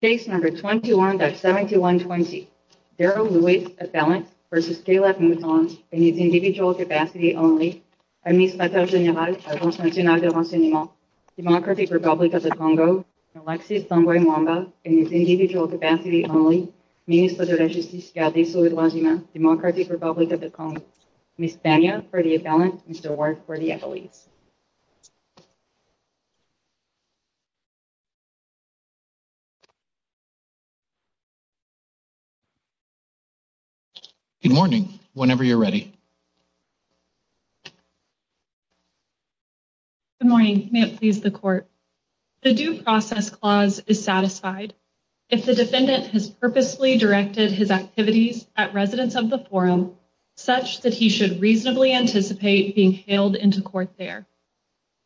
Case number 21-71-20. Darryl Lewis, appellant, versus Kalev Mutond, in his individual capacity only. Administrateur Général, Alliance Nationale de Renseignement, Democratic Republic of the Congo. Alexis Zambo-Mwamba, in his individual capacity only. Ministre de la Justice, Garde et Solidarité humaine, Democratic Republic of the Congo. Ms. Pena, for the appellant. Mr. Ward, for the accolades. Good morning. Whenever you're ready. Good morning. May it please the Court. The Due Process Clause is satisfied if the defendant has purposely directed his activities at residence of the forum such that he should reasonably anticipate being hailed into court there.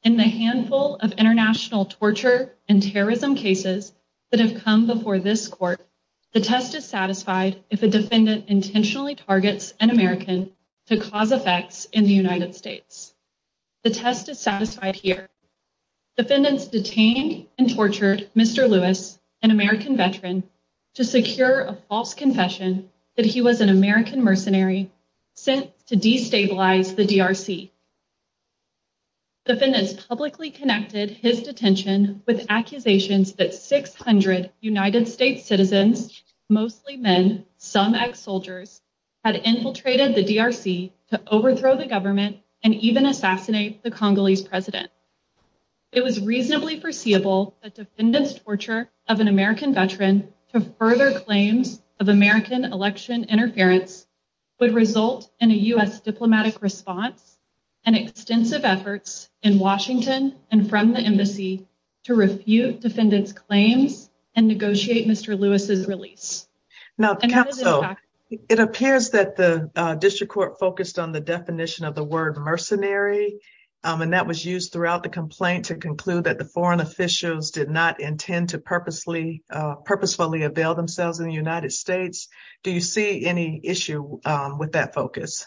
In the handful of before this Court, the test is satisfied if a defendant intentionally targets an American to cause effects in the United States. The test is satisfied here. Defendants detained and tortured Mr. Lewis, an American veteran, to secure a false confession that he was an American mercenary sent to destabilize the DRC. Defendants publicly connected his detention with accusations that 600 United States citizens, mostly men, some ex-soldiers, had infiltrated the DRC to overthrow the government and even assassinate the Congolese president. It was reasonably foreseeable that defendants' torture of an American veteran to further claims of American election interference would result in a U.S. diplomatic response and extensive efforts in Washington and from the embassy to refute defendants' claims and negotiate Mr. Lewis's release. Now counsel, it appears that the District Court focused on the definition of the word mercenary and that was used throughout the complaint to conclude that the foreign officials did not intend to purposefully avail themselves in the United States. Do you see any issue with that focus?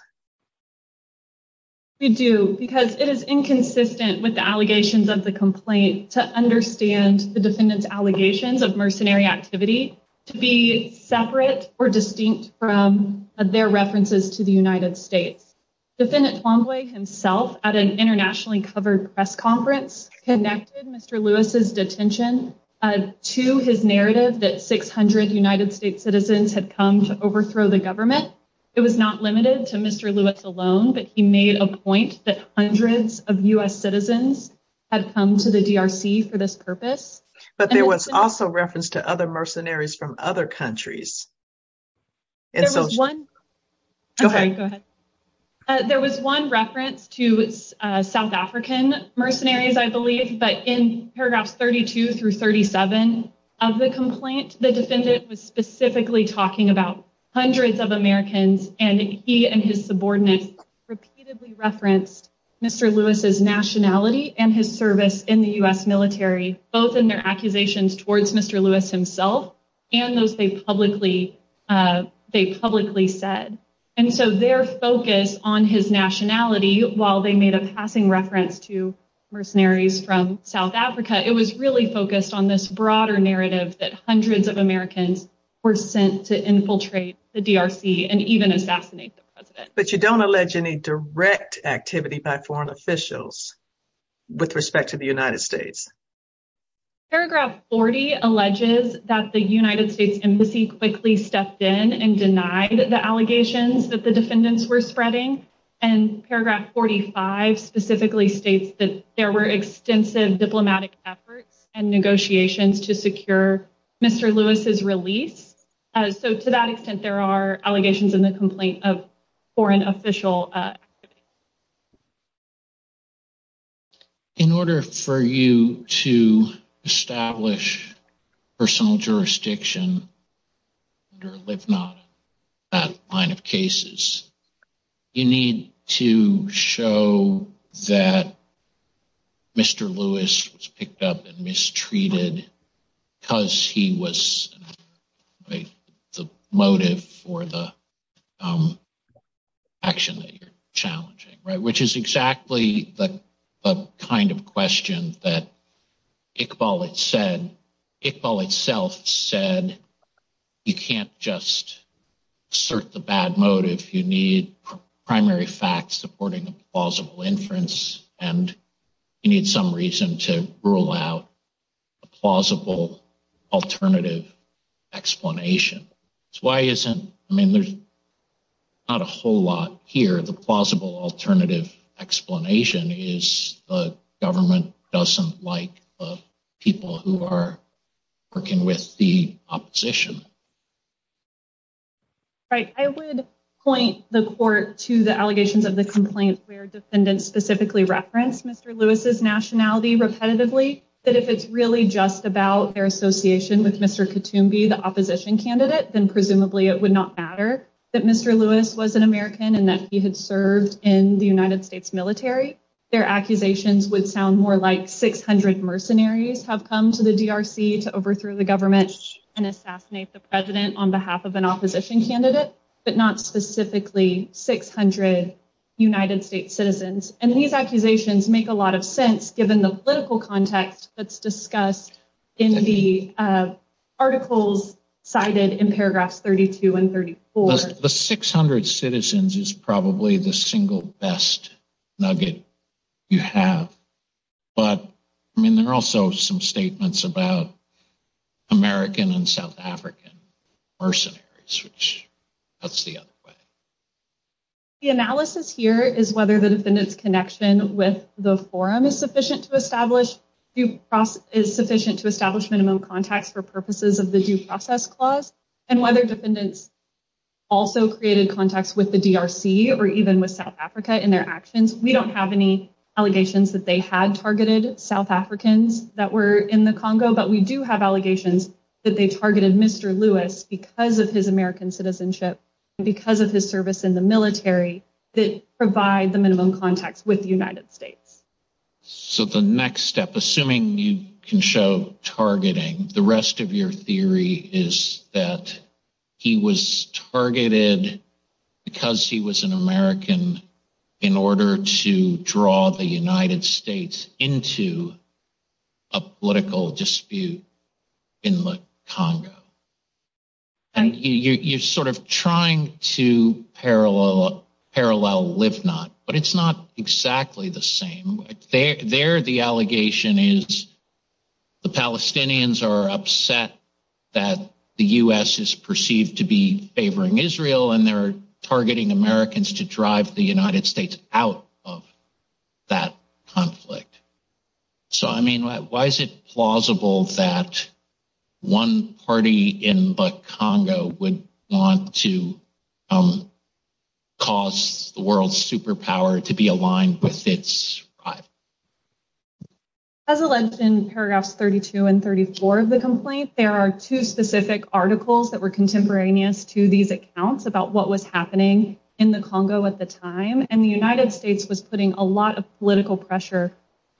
We do because it is inconsistent with the allegations of the complaint to understand the defendants' allegations of mercenary activity to be separate or distinct from their references to the United States. Defendant Twombly himself at an internationally covered press conference connected Mr. Lewis's detention to his narrative that 600 United States citizens had come to overthrow the government. It was not limited to Mr. Lewis alone, but he made a point that hundreds of U.S. citizens had come to the DRC for this purpose. But there was also reference to other mercenaries from other countries. There was one reference to South African mercenaries, I believe, but in paragraphs 32 through 37 of the complaint, the defendant was specifically talking about hundreds of Americans and he and his subordinates repeatedly referenced Mr. Lewis's nationality and his service in the U.S. military, both in their accusations towards Mr. Lewis himself and those they publicly said. And so their focus on his nationality while they made a passing reference to mercenaries from this broader narrative that hundreds of Americans were sent to infiltrate the DRC and even assassinate the president. But you don't allege any direct activity by foreign officials with respect to the United States. Paragraph 40 alleges that the United States embassy quickly stepped in and denied the allegations that the defendants were spreading, and paragraph 45 specifically states that there were extensive diplomatic efforts and negotiations to secure Mr. Lewis's release. So to that extent, there are allegations in the complaint of foreign official activity. In order for you to establish personal jurisdiction under LIVNOT, that line of cases, you need to show that Mr. Lewis was picked up and mistreated because he was the motive for the action that you're challenging, right? Which is exactly the kind of question that primary facts supporting a plausible inference and you need some reason to rule out a plausible alternative explanation. I mean, there's not a whole lot here. The plausible alternative explanation is the government doesn't like people who are working with the opposition. Right. I would point the court to the allegations of the complaint where defendants specifically referenced Mr. Lewis's nationality repetitively, that if it's really just about their association with Mr. Katoombi, the opposition candidate, then presumably it would not matter that Mr. Lewis was an American and that he had served in the United States military. Their accusations would sound more like 600 mercenaries have come to the DRC to overthrow the government and assassinate the president on behalf of an opposition candidate, but not specifically 600 United States citizens. And these accusations make a lot of sense given the political context that's discussed in the articles cited in paragraphs 32 and 34. The 600 citizens is probably the single best nugget you have. But I mean, there are also some statements about American and South African mercenaries, which that's the other way. The analysis here is whether the defendant's connection with the forum is sufficient to establish minimum contacts for purposes of the due process clause and whether defendants also created contacts with the DRC or even with South Africa in their actions. We don't have any allegations that they targeted Mr. Lewis because of his American citizenship and because of his service in the military that provide the minimum contacts with the United States. So the next step, assuming you can show targeting, the rest of your theory is that he was targeted because he was an American in order to draw the United States into a political dispute. In the Congo. And you're sort of trying to parallel live not, but it's not exactly the same. There the allegation is the Palestinians are upset that the U.S. is perceived to be favoring Israel and they're targeting Americans to drive the United States out of that conflict. So, I mean, why is it plausible that one party in the Congo would want to cause the world's superpower to be aligned with its rival? As alleged in paragraphs 32 and 34 of the complaint, there are two specific articles that were contemporaneous to these accounts about what was happening in the Congo at the time. The first was that the U.S. was calling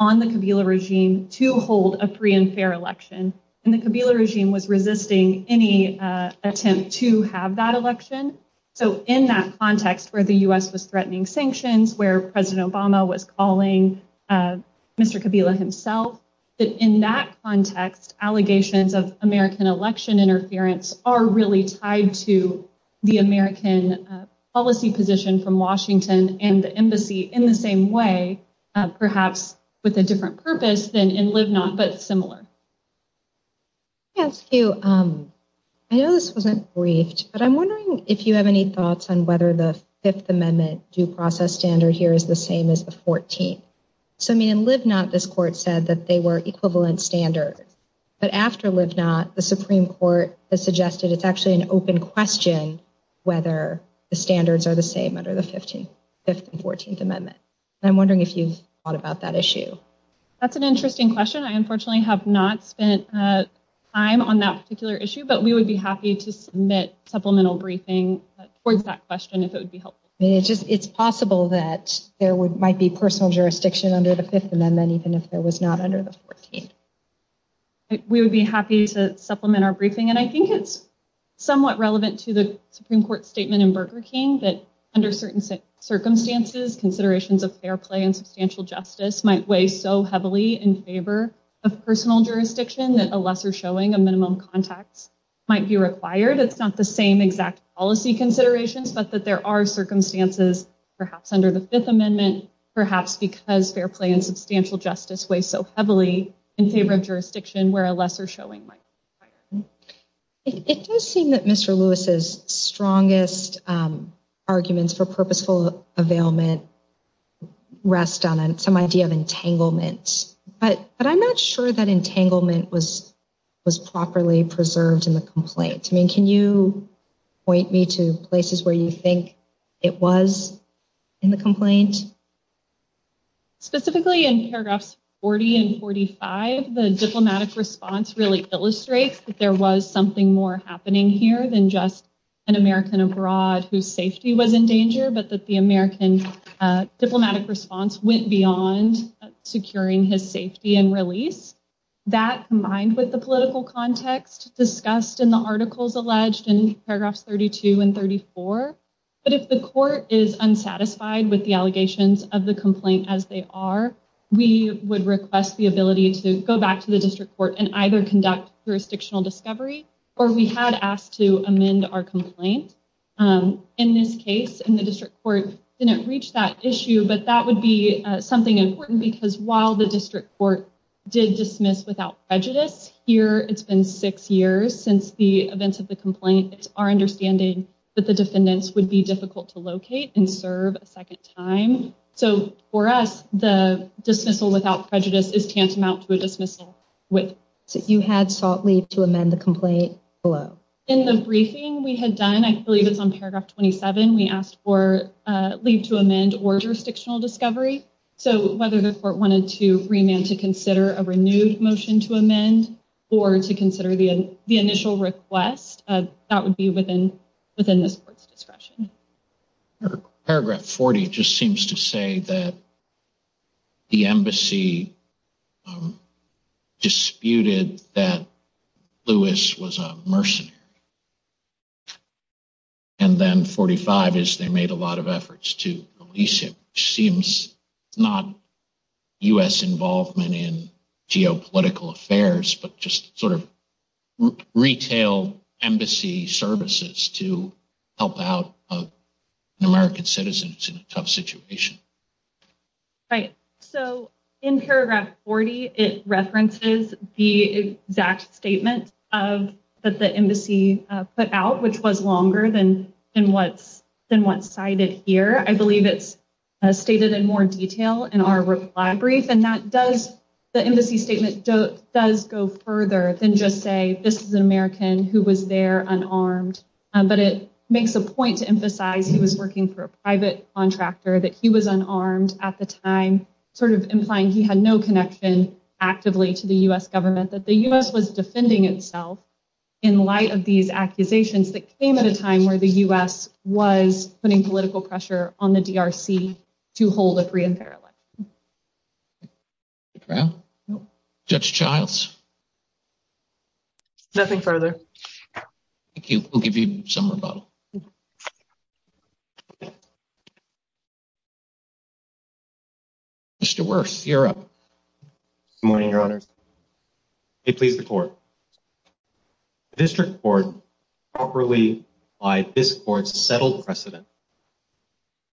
on the Kabila regime to hold a free and fair election and the Kabila regime was resisting any attempt to have that election. So, in that context, where the U.S. was threatening sanctions, where President Obama was calling Mr. Kabila himself, that in that context, allegations of American election interference are really tied to the different purpose than in live not, but it's similar. I know this wasn't briefed, but I'm wondering if you have any thoughts on whether the Fifth Amendment due process standard here is the same as the 14th. So, I mean, in live not, this court said that they were equivalent standards, but after live not, the Supreme Court has suggested it's actually an open question whether the standards are the same under the Fifth and 14th Amendment. I'm wondering if you've thought about that issue. That's an interesting question. I unfortunately have not spent time on that particular issue, but we would be happy to submit supplemental briefing towards that question if it would be helpful. It's possible that there might be personal jurisdiction under the Fifth Amendment, even if it was not under the 14th. We would be happy to supplement our briefing and I think it's relevant to the Supreme Court statement in Burger King that under certain circumstances, considerations of fair play and substantial justice might weigh so heavily in favor of personal jurisdiction that a lesser showing of minimum contacts might be required. It's not the same exact policy considerations, but that there are circumstances perhaps under the Fifth Amendment, perhaps because fair play and substantial justice weighs so heavily in favor of jurisdiction where lesser showing might be required. It does seem that Mr. Lewis's strongest arguments for purposeful availment rest on some idea of entanglement, but I'm not sure that entanglement was properly preserved in the complaint. Can you point me to places where you think it was in the complaint? Specifically in paragraphs 40 and 45, the diplomatic response really illustrates that there was something more happening here than just an American abroad whose safety was in danger, but that the American diplomatic response went beyond securing his safety and release. That, combined with the political context discussed in the articles alleged in paragraphs 32 and 34, but if the court is unsatisfied with the allegations of the complaint as they are, we would request the ability to go back to the district court and either conduct jurisdictional discovery or we had asked to amend our complaint. In this case, the district court didn't reach that issue, but that would be something important because while the district court did dismiss without prejudice, here it's been six years since the events of the complaint. It's our understanding that the defendants would be difficult to locate and serve a second time. So for us, the dismissal without prejudice is tantamount to a dismissal. So you had sought leave to amend the complaint below? In the briefing we had done, I believe it's on paragraph 27, we asked for leave to amend or jurisdictional discovery. So whether the court wanted to remand to consider a renewed motion to amend or to consider the initial request, that would be within this court's discretion. Paragraph 40 just seems to say that the embassy disputed that Lewis was a mercenary. And then 45 is they made a lot of efforts to release him, seems not U.S. involvement in geopolitical affairs, but just sort of retail embassy services to help out American citizens in a tough situation. Right. So in paragraph 40, it references the exact statement that the embassy put out, which was longer than what's cited here. I believe it's stated in more detail in our reply brief. And that does, the embassy statement does go further than just say, this is an American who was there unarmed. But it makes a point to emphasize he was working for a private contractor, that he was unarmed at the time, sort of implying he had no connection actively to the U.S. government, that the U.S. was defending itself in light of these accusations that came at a time where the U.S. was putting political pressure on the D.R.C. to hold a free and fair election. Judge Childs. Nothing further. Thank you. We'll give you some rebuttal. Mr. Wirth, you're up. Good morning, your honors. May it please the court. The district court properly applied this court's settled precedent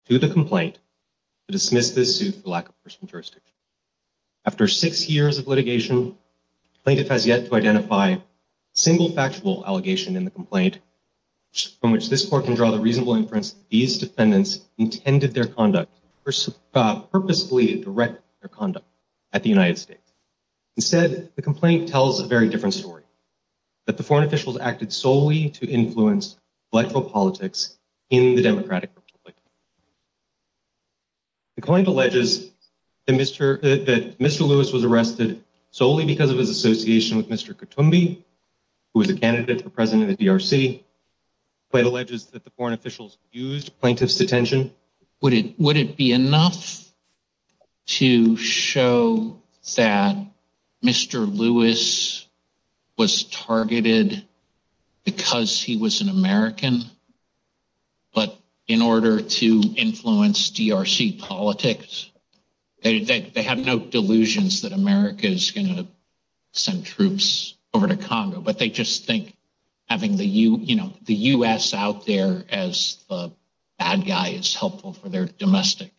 to the complaint to dismiss this suit for lack of personal jurisdiction. After six years of litigation, the plaintiff has yet to identify a single factual allegation in the complaint from which this court can draw the reasonable inference that these defendants intended their conduct or purposefully directed their that the foreign officials acted solely to influence electoral politics in the Democratic Republic. The complaint alleges that Mr. Lewis was arrested solely because of his association with Mr. Kutumbi, who was a candidate for president of the D.R.C. The complaint alleges that the foreign officials used plaintiff's detention. Would it be enough to show that Mr. Lewis was targeted because he was an American, but in order to influence D.R.C. politics, they have no delusions that America is going to send troops over to Congo, but they just think having the U.S. out there as the bad guy is helpful for their domestic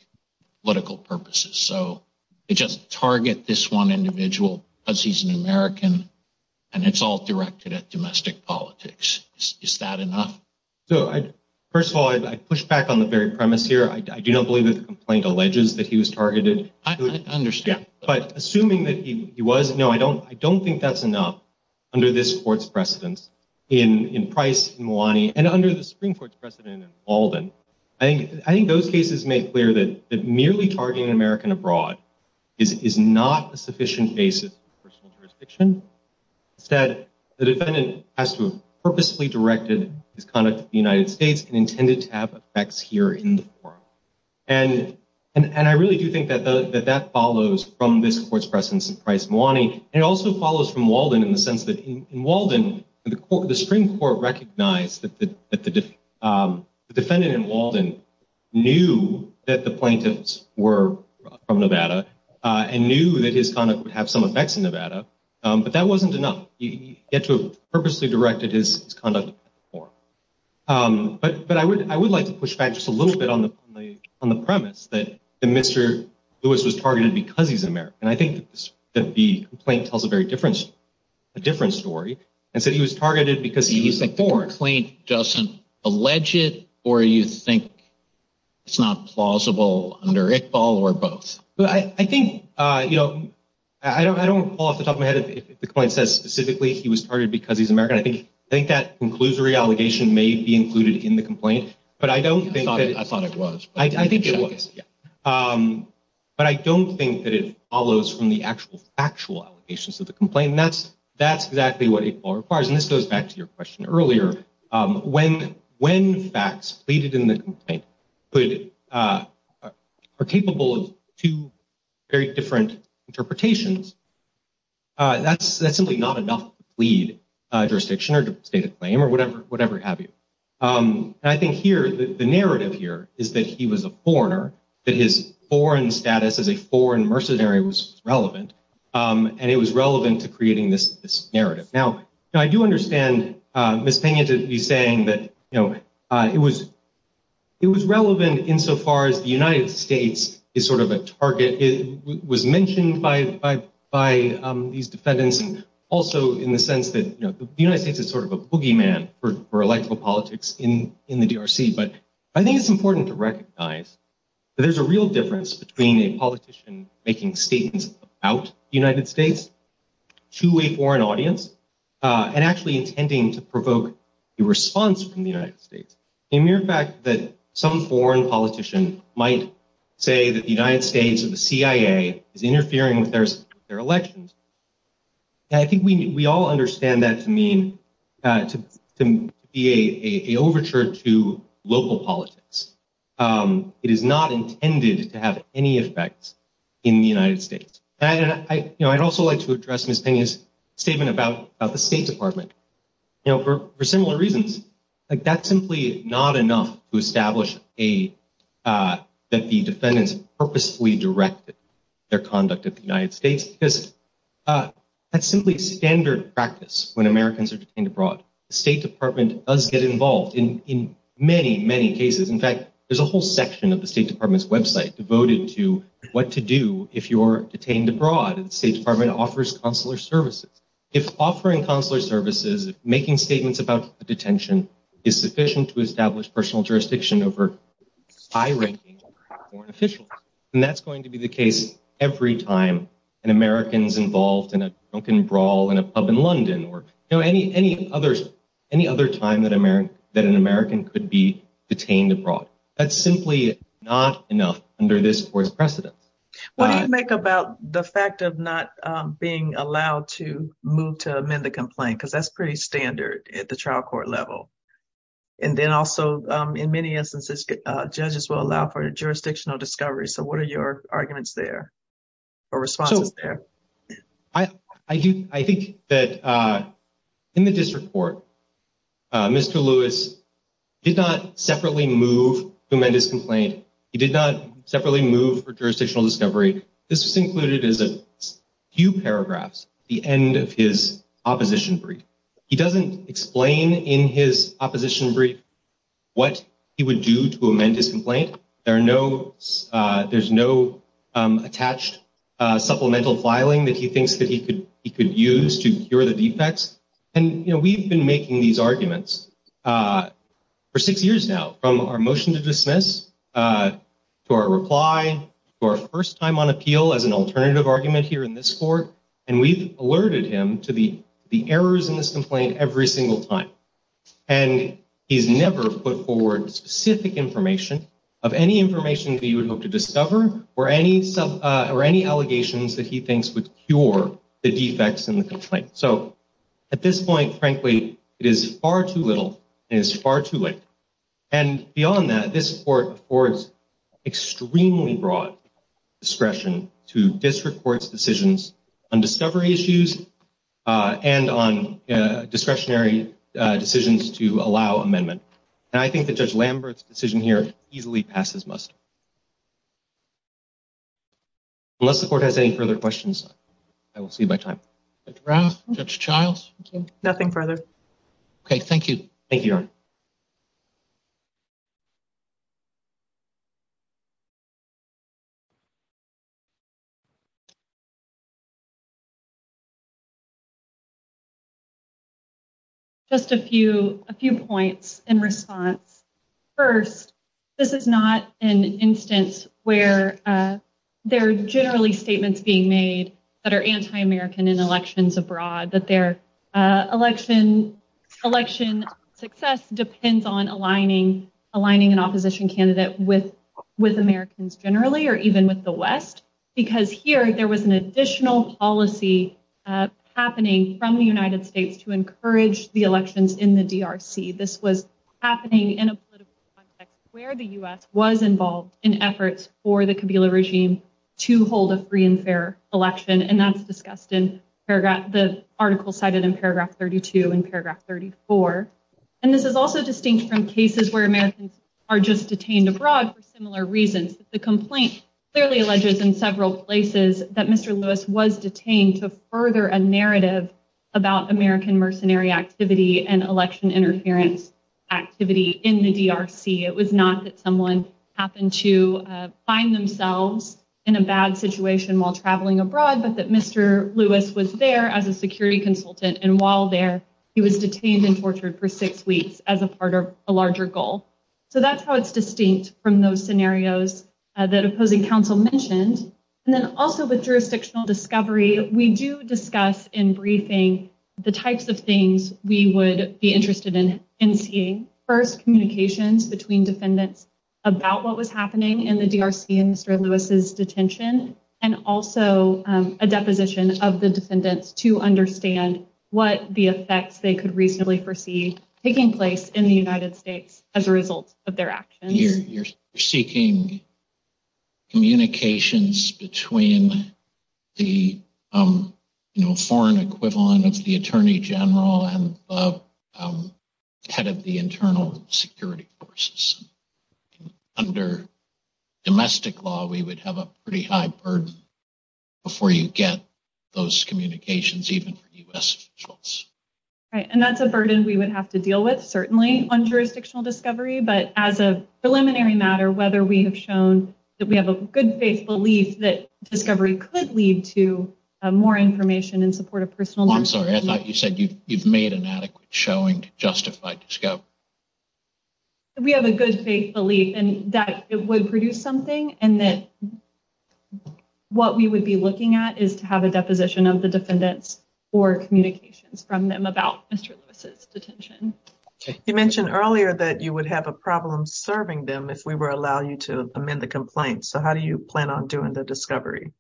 political purposes. So they just target this one individual because he's an American and it's all directed at domestic politics. Is that enough? First of all, I push back on the very premise here. I do not believe that the complaint alleges that he was targeted. I understand. But assuming that he was, no, I don't think that's enough under this court's precedence in Price, Milani, and under the Supreme Court's precedent in Baldwin. I think those cases make clear that merely targeting American abroad is not a sufficient basis for personal jurisdiction. Instead, the defendant has to have purposefully directed his conduct to the United States and intended to have effects here in the forum. And I really do think that that follows from this court's precedence in Price, Milani. And it also follows from Walden in the sense that in Walden, the Supreme Court recognized that the defendant in Walden knew that the plaintiffs were from Nevada and knew that his conduct would have some effects in Nevada, but that wasn't enough. He had to have purposely directed his conduct to the forum. But I would like to push back just a little bit on the premise that Mr. Lewis was targeted because he's an American. I think that the complaint doesn't allege it, or you think it's not plausible under Iqbal or both? Well, I think, you know, I don't want to fall off the top of my head if the complaint says specifically he was targeted because he's American. I think that conclusory allegation may be included in the complaint. But I don't think that... I thought it was. I think it was. But I don't think that it follows from the actual, factual allegations of the complaint. And that's exactly what Iqbal requires. And this goes back to your question earlier. When facts pleaded in the complaint are capable of two very different interpretations, that's simply not enough to plead jurisdiction or state a claim or whatever have you. And I think here, the narrative here is that he was a foreigner, that his foreign status as a foreign mercenary was relevant, and it was relevant to creating this narrative. Now, I do understand Ms. Pena to be saying that it was relevant insofar as the United States is sort of a target. It was mentioned by these defendants also in the sense that the United States is sort of a boogeyman for electoral politics in the DRC. But I think it's important to recognize that there's a real difference between a politician making statements about the United States to a foreign audience and actually intending to provoke a response from the United States. The mere fact that some foreign politician might say that the United States or the CIA is interfering with their elections, I think we all understand that to mean to be an overture to local politics. It is not intended to have any effect in the United States. I'd also like to address Ms. Pena's statement about the State Department. For similar reasons, that's simply not enough to establish that the defendants purposefully directed their conduct at the United States because that's simply standard practice when Americans are detained abroad. The State Department does get involved in many, many cases. In fact, there's a whole section of the State Department's website devoted to what to do if you're detained abroad. The State Department offers consular services. If offering consular services, making statements about detention is sufficient to establish personal jurisdiction over high-ranking foreign officials, then that's going to be the case every time an American's involved in a drunken brawl in a pub in London or any other time that What do you make about the fact of not being allowed to move to amend the complaint? Because that's pretty standard at the trial court level. And then also, in many instances, judges will allow for jurisdictional discovery. So what are your arguments there or responses there? I think that in the district court, Mr. Lewis did not separately move to amend his complaint. He did not separately move for jurisdictional discovery. This was included as a few paragraphs at the end of his opposition brief. He doesn't explain in his opposition brief what he would do to amend his complaint. There's no attached supplemental filing that he thinks that he could use to cure the defects. And we've been making these arguments for six years now, from our motion to dismiss, to our reply, to our first time on appeal as an alternative argument here in this court. And we've alerted him to the errors in this complaint every single time. And he's never put forward specific information of any information that he would hope to discover or any allegations that he thinks would cure the defects in the complaint. So at this point, frankly, it is far too little and it is far too late. And beyond that, this court affords extremely broad discretion to district court's decisions on discovery issues and on discretionary decisions to allow amendment. And I think that Judge Lambert's decision here easily passes must. Unless the court has any further questions, I will cede my time. Judge Rath, Judge Childs? Nothing further. Okay. Thank you. Thank you, Your Honor. Just a few points in response. First, this is not an instance where there are generally statements being made that are anti-American in elections abroad, that their election success depends on aligning an opposition candidate with Americans generally or even with the West. Because here, there was an additional policy happening from the United States to encourage the elections in the DRC. This was happening in a political context where the U.S. was involved in efforts for the election. And that's discussed in the article cited in paragraph 32 and paragraph 34. And this is also distinct from cases where Americans are just detained abroad for similar reasons. The complaint clearly alleges in several places that Mr. Lewis was detained to further a narrative about American mercenary activity and election interference activity in the DRC. It was not that someone happened to find themselves in a bad situation while traveling abroad, but that Mr. Lewis was there as a security consultant. And while there, he was detained and tortured for six weeks as a part of a larger goal. So that's how it's distinct from those scenarios that opposing counsel mentioned. And then also with jurisdictional discovery, we do discuss in briefing the types of things we would be interested in seeing. First, communications between defendants about what was happening in the DRC and Mr. Lewis's detention. And also a deposition of the defendants to understand what the effects they could reasonably foresee taking place in the United States as a result of their actions. You're seeking communications between the foreign equivalent of the attorney general and the head of the internal security forces. Under domestic law, we would have a pretty high burden before you get those communications, even for U.S. officials. Right, and that's a burden we would have to deal with, certainly, on jurisdictional discovery. But as a preliminary matter, whether we have shown that we have a good faith belief that discovery could lead to more information in support of personal... I'm sorry, I thought you said you've made an adequate showing to justify discovery. We have a good faith belief and that it would produce something and that what we would be looking at is to have a deposition of the defendants for communications from them about Mr. Lewis's detention. You mentioned earlier that you would have a problem serving them if we were allow you to amend the complaint. So how do you plan on doing the discovery?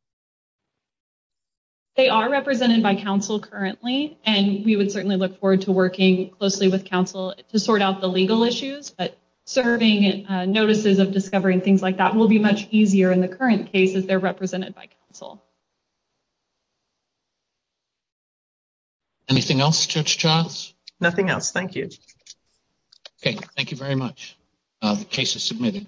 They are represented by counsel currently and we would certainly look forward to working closely with counsel to sort out the legal issues. But serving notices of discovery and things like that will be much easier in the current cases they're represented by counsel. Anything else, Judge Charles? Nothing else, thank you. Okay, thank you very much. The case is submitted. Thank you.